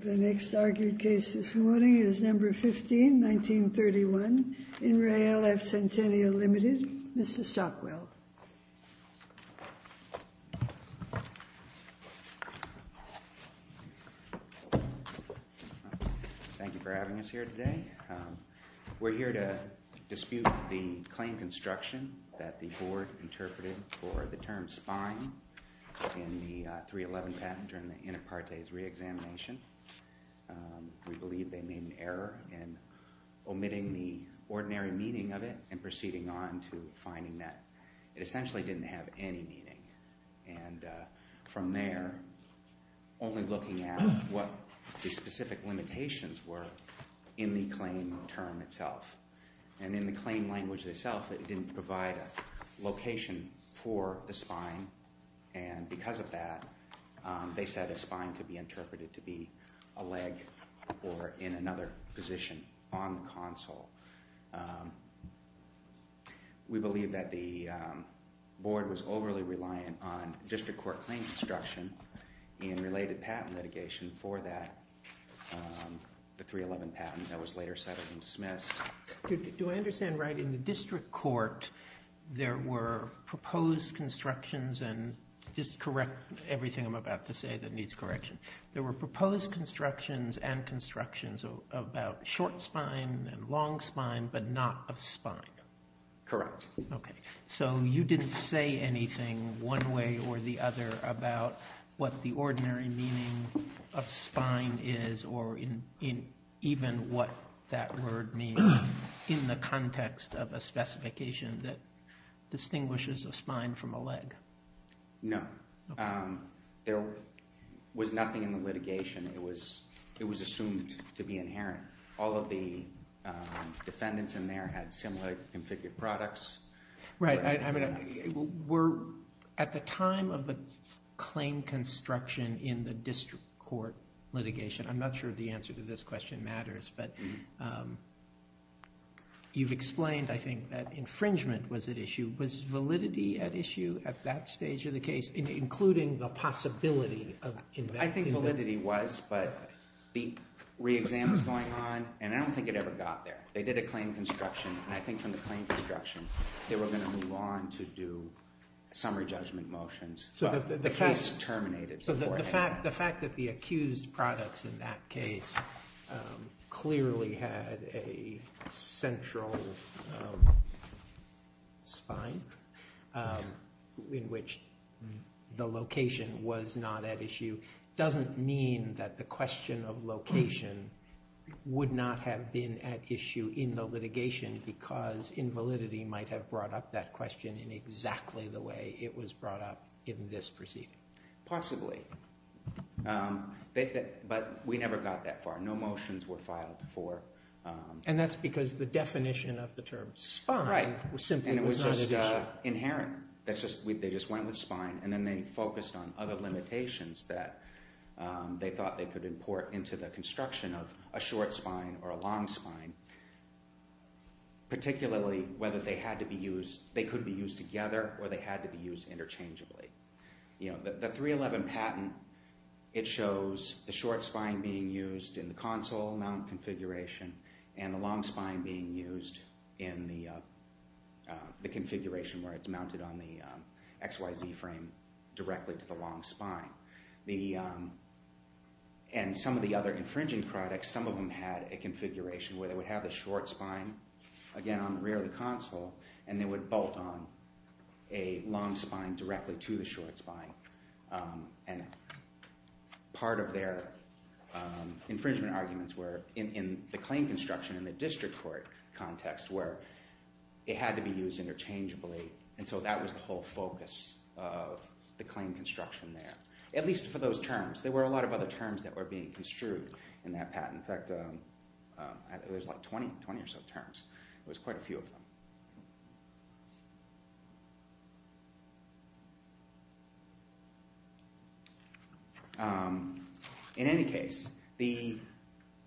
The next argued case this morning is number 15 1931 in rail F Centennial Limited, Mr. Stockwell. Thank you for having us here today. We're here to dispute the claim construction that the board interpreted for the term spine in the 311 patent during the in a part days reexamination. We believe they made an error in omitting the ordinary meaning of it and proceeding on to finding that it essentially didn't have any meaning. And from there, only looking at what the specific limitations were in the claim term itself. And in the claim language itself, it didn't provide a location for the spine. And because of that, they said a spine could be interpreted to be a leg or in another position on the console. We believe that the board was overly reliant on district court claims instruction in related patent litigation for that. The 311 patent that was later settled and dismissed. Do I understand right in the district court? There were proposed constructions and just correct everything I'm about to say that needs correction. There were proposed constructions and constructions about short spine and long spine, but not of spine. Correct. OK, so you didn't say anything one way or the other about what the ordinary meaning of spine is or in even what that word means in the context of a specification that distinguishes a spine from a leg. No, there was nothing in the litigation. It was it was assumed to be inherent. All of the defendants in there had similar configured products. Right. I mean, we're at the time of the claim construction in the district court litigation. I'm not sure the answer to this question matters, but you've explained, I think, that infringement was at issue. Was validity at issue at that stage of the case, including the possibility of. I think validity was, but the re-exam is going on and I don't think it ever got there. They did a claim construction. I think from the claim construction, they were going to move on to do summary judgment motions. So the case terminated. The fact that the accused products in that case clearly had a central spine in which the location was not at issue doesn't mean that the question of location would not have been at issue in the litigation because invalidity might have brought up that question in exactly the way it was brought up in this proceeding. Possibly. But we never got that far. No motions were filed for. And that's because the definition of the term spine was simply not at issue. Right. And it was just inherent. They just went with spine and then they focused on other limitations that they thought they could import into the construction of a short spine or a long spine. Particularly whether they had to be used, they could be used together or they had to be used interchangeably. The 311 patent, it shows the short spine being used in the console mount configuration and the long spine being used in the configuration where it's mounted on the XYZ frame directly to the long spine. And some of the other infringing products, some of them had a configuration where they would have the short spine again on the rear of the console and they would bolt on a long spine directly to the short spine. And part of their infringement arguments were in the claim construction in the district court context where it had to be used interchangeably. And so that was the whole focus of the claim construction there. At least for those terms. There were a lot of other terms that were being construed in that patent. In fact, there's like 20 or so terms. There was quite a few of them. In any case, the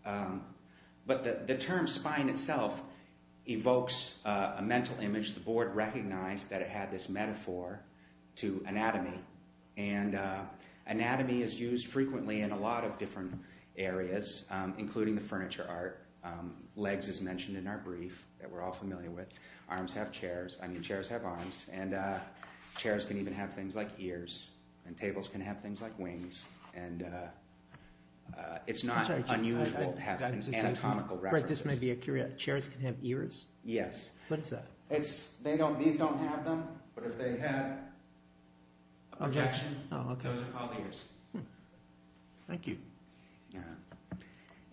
term spine itself evokes a mental image. The board recognized that it had this metaphor to anatomy. And anatomy is used frequently in a lot of different areas, including the furniture art. Legs is mentioned in our brief that we're all familiar with. Arms have chairs. I mean, chairs have arms. And chairs can even have things like ears. And tables can have things like wings. And it's not unusual to have anatomical references. Right, this may be a curious. Chairs can have ears? Yes. What's that? These don't have them. But if they had, objection. Those are called ears. Thank you.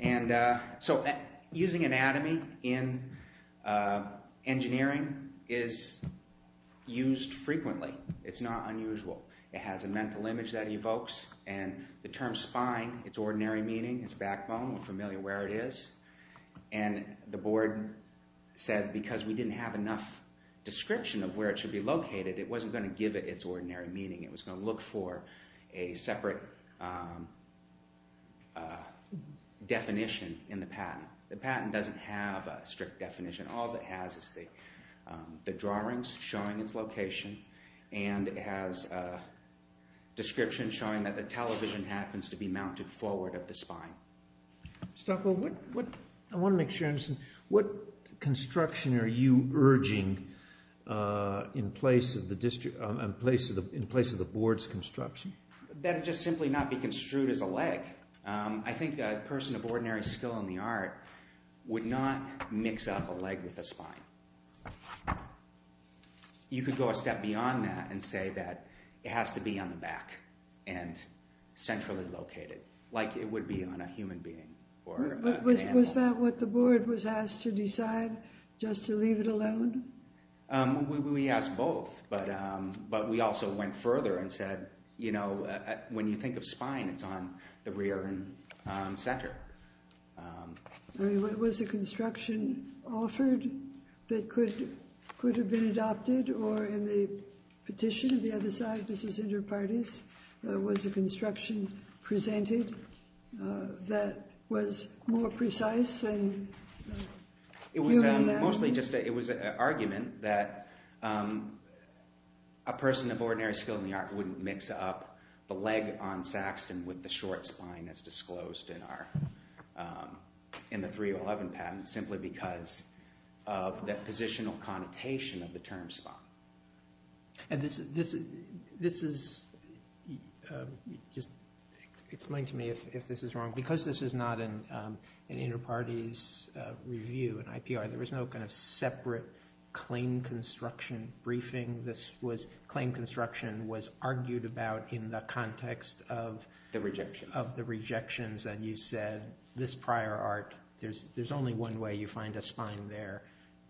And so using anatomy in engineering is used frequently. It's not unusual. It has a mental image that evokes. And the term spine, its ordinary meaning, its backbone, we're familiar where it is. And the board said because we didn't have enough description of where it should be located, it wasn't going to give it its ordinary meaning. It was going to look for a separate definition in the patent. The patent doesn't have a strict definition. All it has is the drawings showing its location. And it has a description showing that the television happens to be mounted forward at the spine. I want to make sure I understand. What construction are you urging in place of the board's construction? That it just simply not be construed as a leg. I think a person of ordinary skill in the art would not mix up a leg with a spine. You could go a step beyond that and say that it has to be on the back and centrally located, like it would be on a human being or an animal. Was that what the board was asked to decide, just to leave it alone? We asked both. But we also went further and said, you know, when you think of spine, it's on the rear and center. Was a construction offered that could have been adopted or in the petition of the other side, was a construction presented that was more precise? It was an argument that a person of ordinary skill in the art wouldn't mix up the leg on Saxton with the short spine as disclosed in the 3011 patent, simply because of that positional connotation of the term spine. Just explain to me if this is wrong. Because this is not an inter-parties review, an IPR, there was no kind of separate claim construction briefing. Claim construction was argued about in the context of the rejections, and you said this prior art, there's only one way you find a spine there,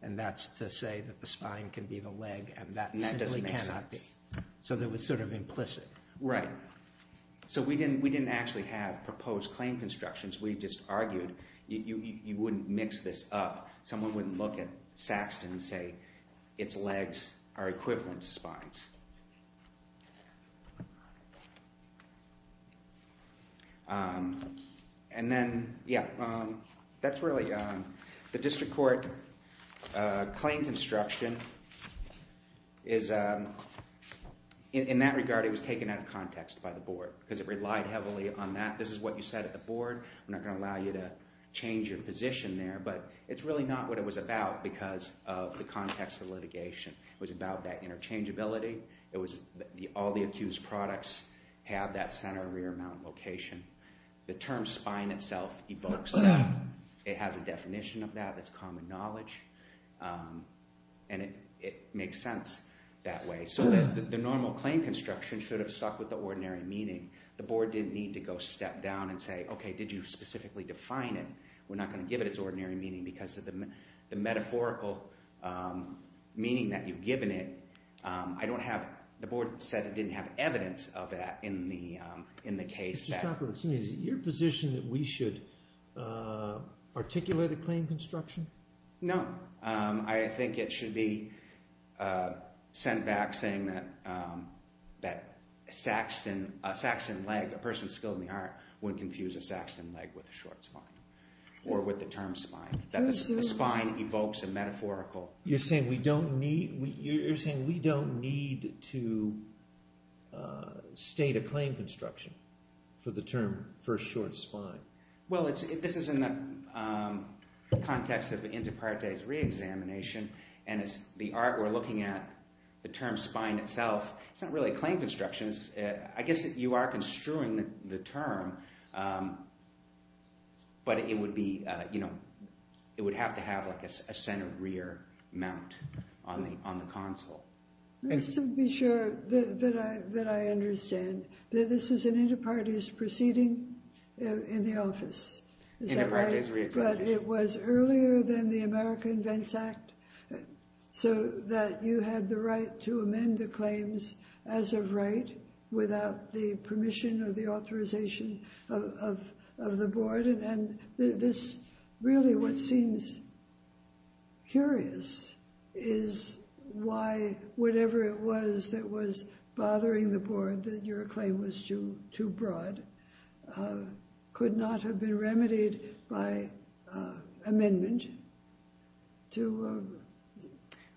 and that's to say that the spine can be the leg and that simply cannot be. And that doesn't make sense. So that was sort of implicit. Right. So we didn't actually have proposed claim constructions. We just argued you wouldn't mix this up. Someone wouldn't look at Saxton and say its legs are equivalent to spines. And then, yeah, that's really the district court claim construction is in that regard, it was taken out of context by the board because it relied heavily on that. This is what you said at the board. I'm not going to allow you to change your position there, but it's really not what it was about because of the context of litigation. It was about that interchangeability. All the accused products have that center rear mount location. The term spine itself evokes that. It has a definition of that that's common knowledge, and it makes sense that way. So the normal claim construction should have stuck with the ordinary meaning. The board didn't need to go step down and say, okay, did you specifically define it? We're not going to give it its ordinary meaning because of the metaphorical meaning that you've given it. I don't have—the board said it didn't have evidence of that in the case. Mr. Stocker, is it your position that we should articulate a claim construction? No. I think it should be sent back saying that a Saxton leg, a person skilled in the art, wouldn't confuse a Saxton leg with a short spine or with the term spine. The spine evokes a metaphorical— You're saying we don't need to state a claim construction for the term for a short spine. Well, this is in the context of inter partes reexamination, and it's the art we're looking at. The term spine itself, it's not really a claim construction. I guess you are construing the term, but it would be—it would have to have a center rear mount on the console. Just to be sure that I understand, this was an inter partes proceeding in the office. Inter partes reexamination. But it was earlier than the America Invents Act so that you had the right to amend the claims as of right without the permission or the authorization of the board. And this really what seems curious is why whatever it was that was bothering the board, that your claim was too broad, could not have been remedied by amendment to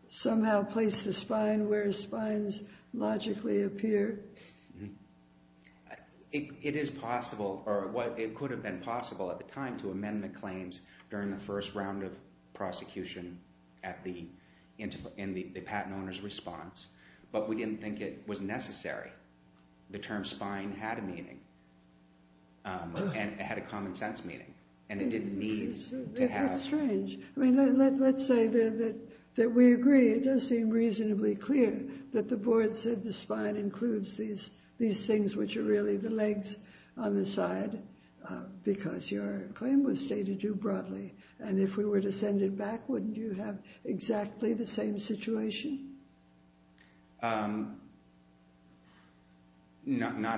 somehow place the spine where spines logically appear? It is possible, or it could have been possible at the time to amend the claims during the first round of prosecution at the patent owner's response, but we didn't think it was necessary. The term spine had a meaning, and it had a common sense meaning, and it didn't need to have— That's strange. I mean, let's say that we agree, it does seem reasonably clear that the board said the spine includes these things which are really the legs on the side because your claim was stated too broadly. And if we were to send it back, wouldn't you have exactly the same situation? Not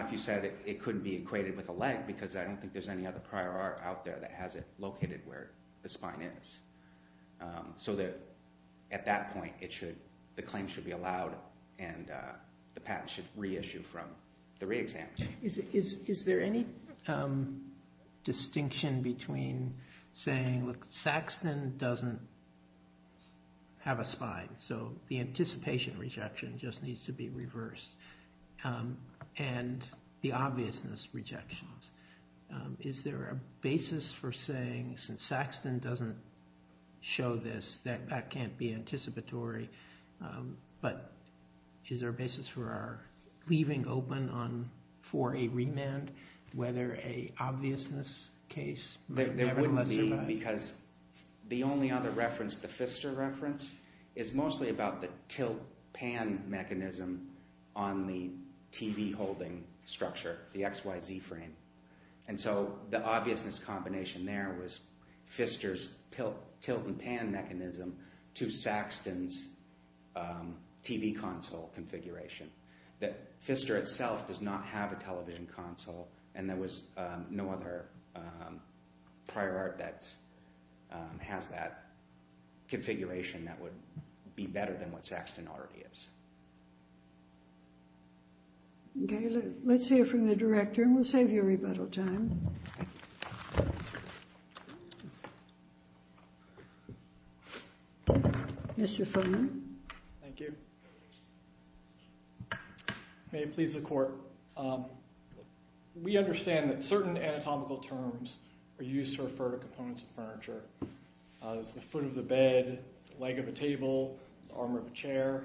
if you said it couldn't be equated with a leg because I don't think there's any other prior art out there that has it located where the spine is. So that at that point, the claim should be allowed and the patent should reissue from the reexamination. Is there any distinction between saying, look, Saxton doesn't have a spine, so the anticipation rejection just needs to be reversed, and the obviousness rejections. Is there a basis for saying, since Saxton doesn't show this, that that can't be anticipatory, but is there a basis for our leaving open for a remand whether an obviousness case— There wouldn't be because the only other reference, the Pfister reference, is mostly about the tilt-pan mechanism on the TV holding structure, the XYZ frame. And so the obviousness combination there was Pfister's tilt-and-pan mechanism to Saxton's TV console configuration. Pfister itself does not have a television console, and there was no other prior art that has that configuration that would be better than what Saxton already is. Okay, let's hear from the director, and we'll save you rebuttal time. Mr. Fulman. Thank you. May it please the Court. We understand that certain anatomical terms are used to refer to components of furniture. There's the foot of the bed, the leg of a table, the arm of a chair.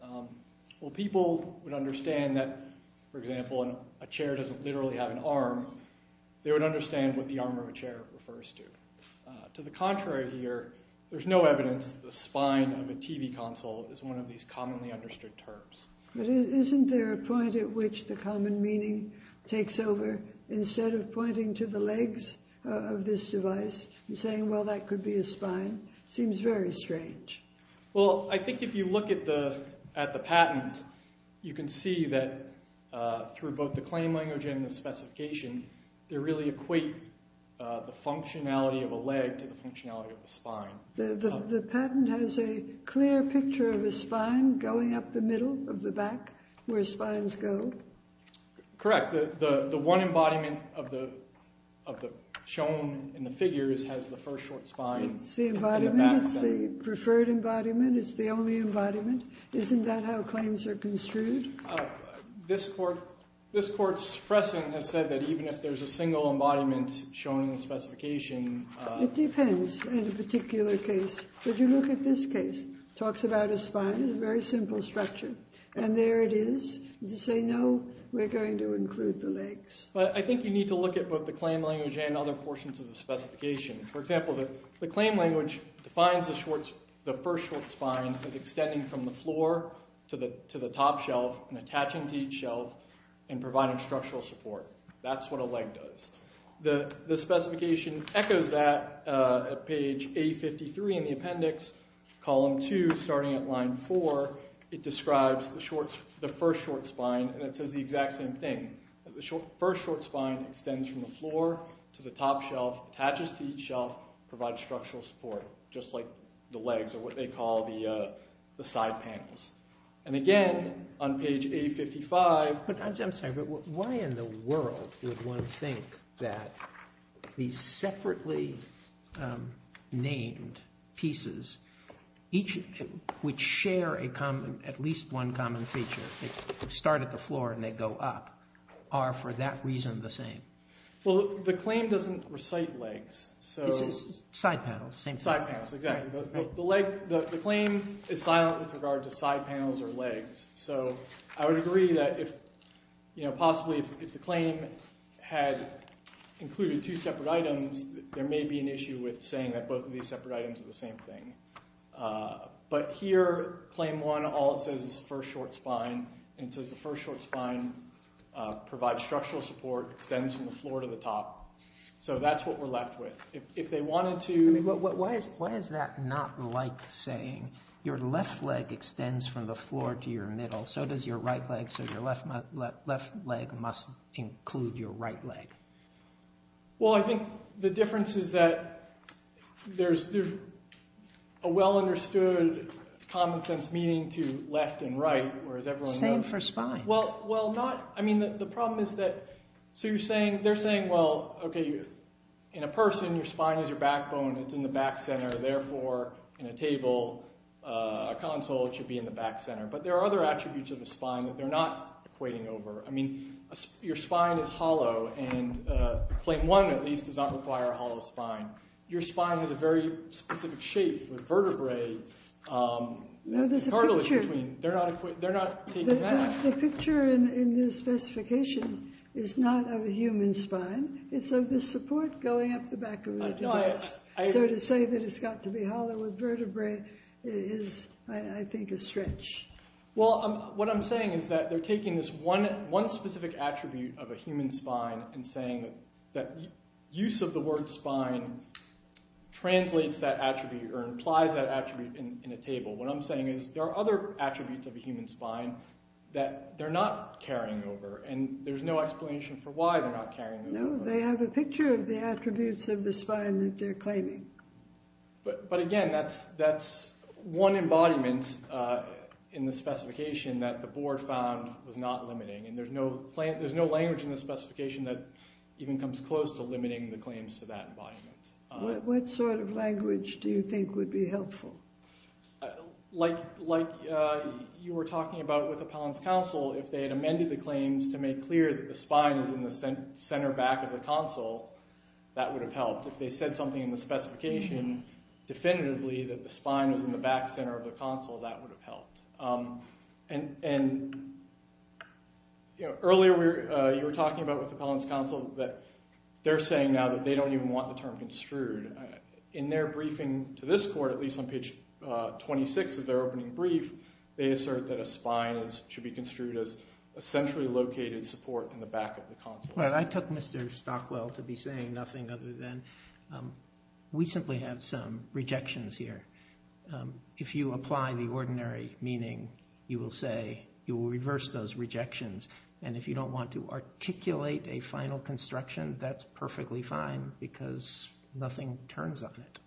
While people would understand that, for example, a chair doesn't literally have an arm, they would understand what the arm of a chair refers to. To the contrary here, there's no evidence that the spine of a TV console is one of these commonly understood terms. But isn't there a point at which the common meaning takes over? Instead of pointing to the legs of this device and saying, well, that could be a spine, it seems very strange. Well, I think if you look at the patent, you can see that through both the claim language and the specification, they really equate the functionality of a leg to the functionality of a spine. The patent has a clear picture of a spine going up the middle of the back where spines go? Correct. The one embodiment of the shown in the figures has the first short spine. It's the embodiment. It's the preferred embodiment. It's the only embodiment. Isn't that how claims are construed? This Court's precedent has said that even if there's a single embodiment shown in the specification It depends in a particular case. If you look at this case, it talks about a spine, a very simple structure. And there it is. You say, no, we're going to include the legs. I think you need to look at both the claim language and other portions of the specification. For example, the claim language defines the first short spine as extending from the floor to the top shelf and attaching to each shelf and providing structural support. That's what a leg does. The specification echoes that at page A53 in the appendix, column 2, starting at line 4. It describes the first short spine, and it says the exact same thing. The first short spine extends from the floor to the top shelf, attaches to each shelf, provides structural support, just like the legs or what they call the side panels. And again, on page A55 I'm sorry, but why in the world would one think that these separately named pieces, which share at least one common feature, start at the floor and they go up, are for that reason the same? Well, the claim doesn't recite legs. This is side panels, same thing. Side panels, exactly. The claim is silent with regard to side panels or legs. So I would agree that possibly if the claim had included two separate items, there may be an issue with saying that both of these separate items are the same thing. But here, claim 1, all it says is first short spine, and it says the first short spine provides structural support, extends from the floor to the top. So that's what we're left with. If they wanted to Why is that not like saying your left leg extends from the floor to your middle, so does your right leg, so your left leg must include your right leg? Well, I think the difference is that there's a well-understood common sense meaning to left and right, whereas everyone knows Same for spine. Well, not – I mean the problem is that – so you're saying – they're saying, well, okay, in a person your spine is your backbone, it's in the back center, therefore in a table, a console, it should be in the back center. But there are other attributes of the spine that they're not equating over. I mean, your spine is hollow, and claim 1 at least does not require a hollow spine. Your spine has a very specific shape with vertebrae that's cartilage between. No, there's a picture. They're not taking that. The picture in this specification is not of a human spine. It's of the support going up the back of a device. So to say that it's got to be hollow with vertebrae is, I think, a stretch. Well, what I'm saying is that they're taking this one specific attribute of a human spine and saying that use of the word spine translates that attribute or implies that attribute in a table. What I'm saying is there are other attributes of a human spine that they're not carrying over, and there's no explanation for why they're not carrying over. No, they have a picture of the attributes of the spine that they're claiming. But, again, that's one embodiment in the specification that the board found was not limiting, and there's no language in the specification that even comes close to limiting the claims to that embodiment. What sort of language do you think would be helpful? Like you were talking about with Appellant's counsel, if they had amended the claims to make clear that the spine is in the center back of the counsel, that would have helped. If they said something in the specification definitively that the spine was in the back center of the counsel, that would have helped. And earlier you were talking about with Appellant's counsel that they're saying now that they don't even want the term construed. In their briefing to this court, at least on page 26 of their opening brief, they assert that a spine should be construed as a centrally located support in the back of the counsel. I took Mr. Stockwell to be saying nothing other than we simply have some rejections here. If you apply the ordinary meaning, you will say you will reverse those rejections, and if you don't want to articulate a final construction, that's perfectly fine because nothing turns on it.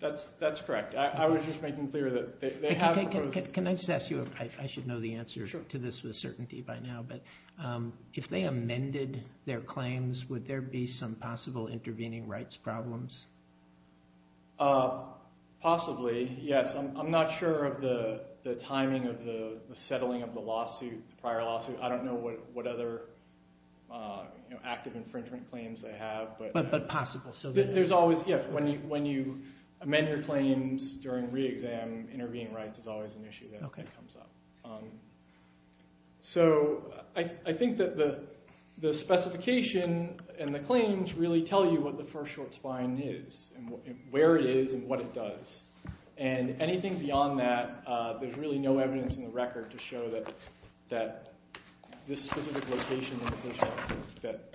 That's correct. I was just making clear that they have a proposal. Can I just ask you, I should know the answer to this with certainty by now, but if they amended their claims, would there be some possible intervening rights problems? Possibly, yes. I'm not sure of the timing of the settling of the prior lawsuit. I don't know what other active infringement claims they have. But possible. When you amend your claims during re-exam, intervening rights is always an issue that comes up. So I think that the specification and the claims really tell you what the first short spine is, where it is, and what it does. And anything beyond that, there's really no evidence in the record to show that this specific location that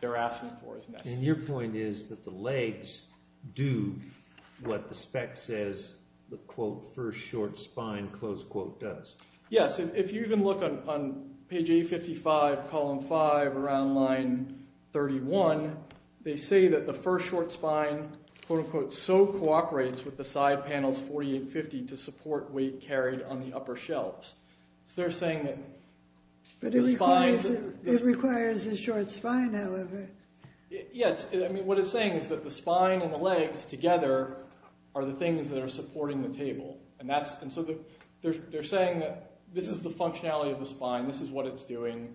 they're asking for is necessary. And your point is that the legs do what the spec says the, quote, first short spine, close quote, does. Yes, and if you even look on page 855, column 5, around line 31, they say that the first short spine, quote unquote, so cooperates with the side panels 4850 to support weight carried on the upper shelves. But it requires a short spine, however. Yes, what it's saying is that the spine and the legs together are the things that are supporting the table. And so they're saying that this is the functionality of the spine, this is what it's doing,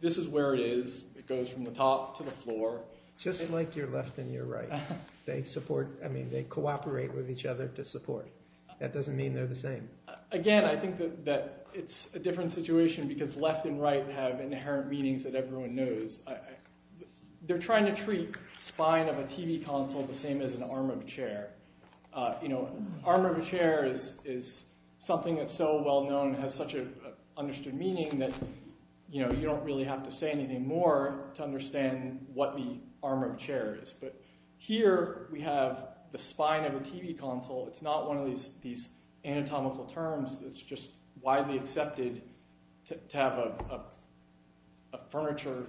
this is where it is, it goes from the top to the floor. Just like your left and your right. They cooperate with each other to support. That doesn't mean they're the same. Again, I think that it's a different situation because left and right have inherent meanings that everyone knows. They're trying to treat spine of a TV console the same as an arm of a chair. You know, arm of a chair is something that's so well known and has such an understood meaning that you don't really have to say anything more to understand what the arm of a chair is. But here we have the spine of a TV console. It's not one of these anatomical terms. It's just widely accepted to have a furniture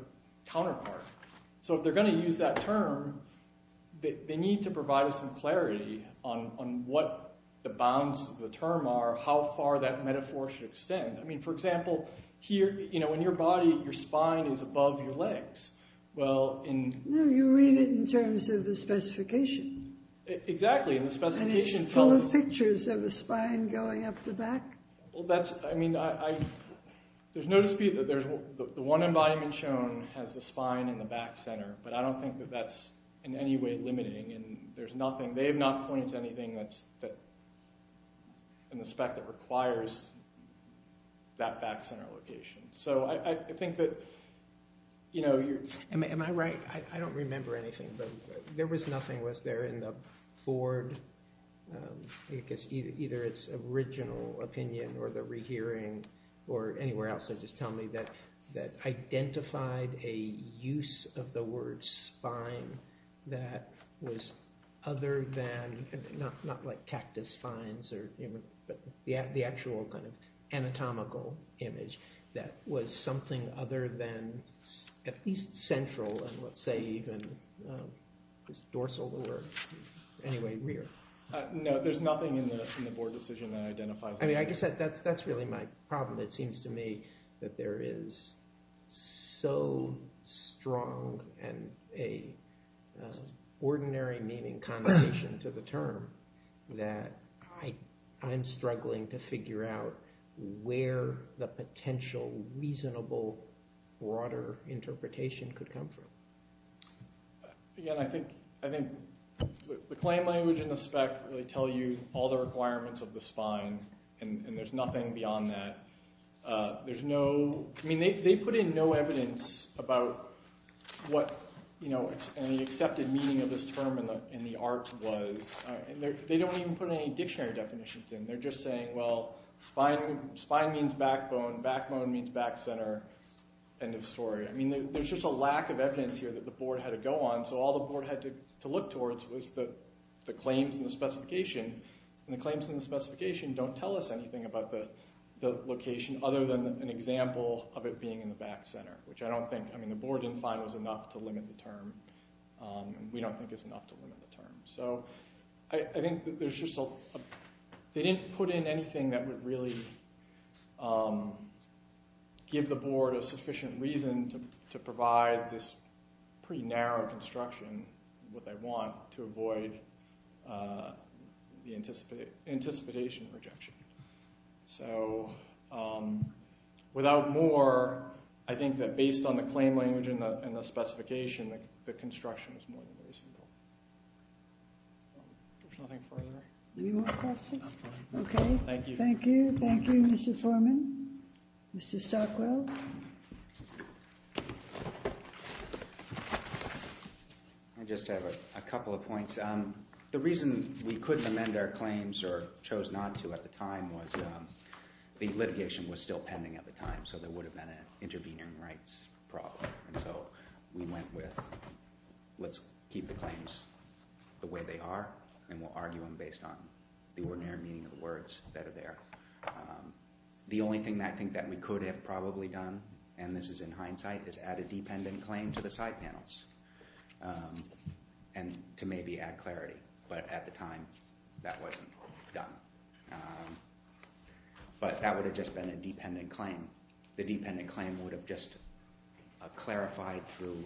counterpart. So if they're going to use that term, they need to provide us some clarity on what the bounds of the term are, how far that metaphor should extend. I mean, for example, here, you know, in your body, your spine is above your legs. No, you read it in terms of the specification. Exactly. And it's full of pictures of a spine going up the back. I mean, there's no dispute that the one embodiment shown has the spine in the back center, but I don't think that that's in any way limiting. They have not pointed to anything in the spec that requires that back center location. So I think that, you know, you're— Am I right? I don't remember anything, but there was nothing was there in the board, because either its original opinion or the rehearing or anywhere else, or just tell me that identified a use of the word spine that was other than, not like cactus spines or, you know, but the actual kind of anatomical image that was something other than at least central and let's say even dorsal or any way rear. No, there's nothing in the board decision that identifies— I mean, I guess that's really my problem. It seems to me that there is so strong and an ordinary meaning connotation to the term that I'm struggling to figure out where the potential reasonable broader interpretation could come from. Again, I think the claim language and the spec really tell you all the requirements of the spine, and there's nothing beyond that. There's no—I mean, they put in no evidence about what, you know, any accepted meaning of this term in the art was. They don't even put any dictionary definitions in. They're just saying, well, spine means backbone, backbone means back center, end of story. I mean, there's just a lack of evidence here that the board had to go on, so all the board had to look towards was the claims and the specification, and the claims and the specification don't tell us anything about the location other than an example of it being in the back center, which I don't think— I mean, the board didn't find it was enough to limit the term, and we don't think it's enough to limit the term. So I think there's just a—they didn't put in anything that would really give the board a sufficient reason to provide this pretty narrow construction, what they want, to avoid the anticipation rejection. So without more, I think that based on the claim language and the specification, the construction is more than reasonable. There's nothing further. Any more questions? Okay. Thank you. Thank you. Thank you, Mr. Foreman. Mr. Stockwell. I just have a couple of points. The reason we couldn't amend our claims or chose not to at the time was the litigation was still pending at the time, so there would have been an intervening rights problem. And so we went with let's keep the claims the way they are, and we'll argue them based on the ordinary meaning of the words that are there. The only thing that I think that we could have probably done, and this is in hindsight, is add a dependent claim to the side panels and to maybe add clarity. But at the time, that wasn't done. But that would have just been a dependent claim. The dependent claim would have just clarified through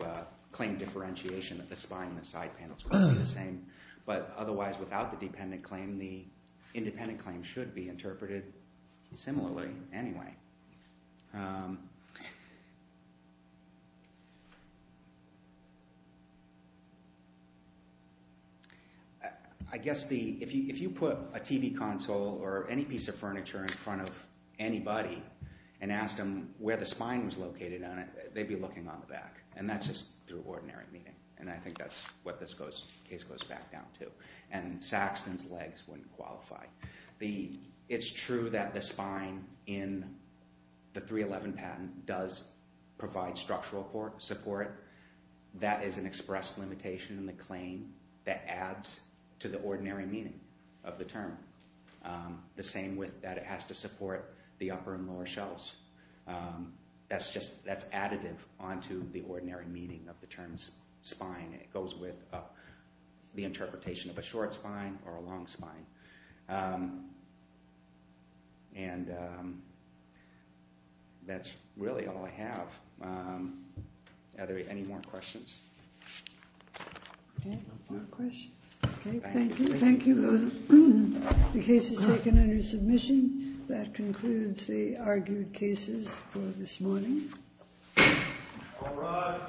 claim differentiation that the spine and the side panels were the same. But otherwise, without the dependent claim, the independent claim should be interpreted similarly anyway. I guess if you put a TV console or any piece of furniture in front of anybody and asked them where the spine was located on it, they'd be looking on the back, and that's just through ordinary meaning. And I think that's what this case goes back down to. And Saxton's legs wouldn't qualify. It's true that the spine in the 311 patent does provide structural support. That is an express limitation in the claim that adds to the ordinary meaning of the term. The same with that it has to support the upper and lower shelves. That's additive onto the ordinary meaning of the term spine. It goes with the interpretation of a short spine or a long spine. And that's really all I have. Are there any more questions? Okay, no questions. Okay, thank you. Thank you. The case is taken under submission. That concludes the argued cases for this morning. All rise.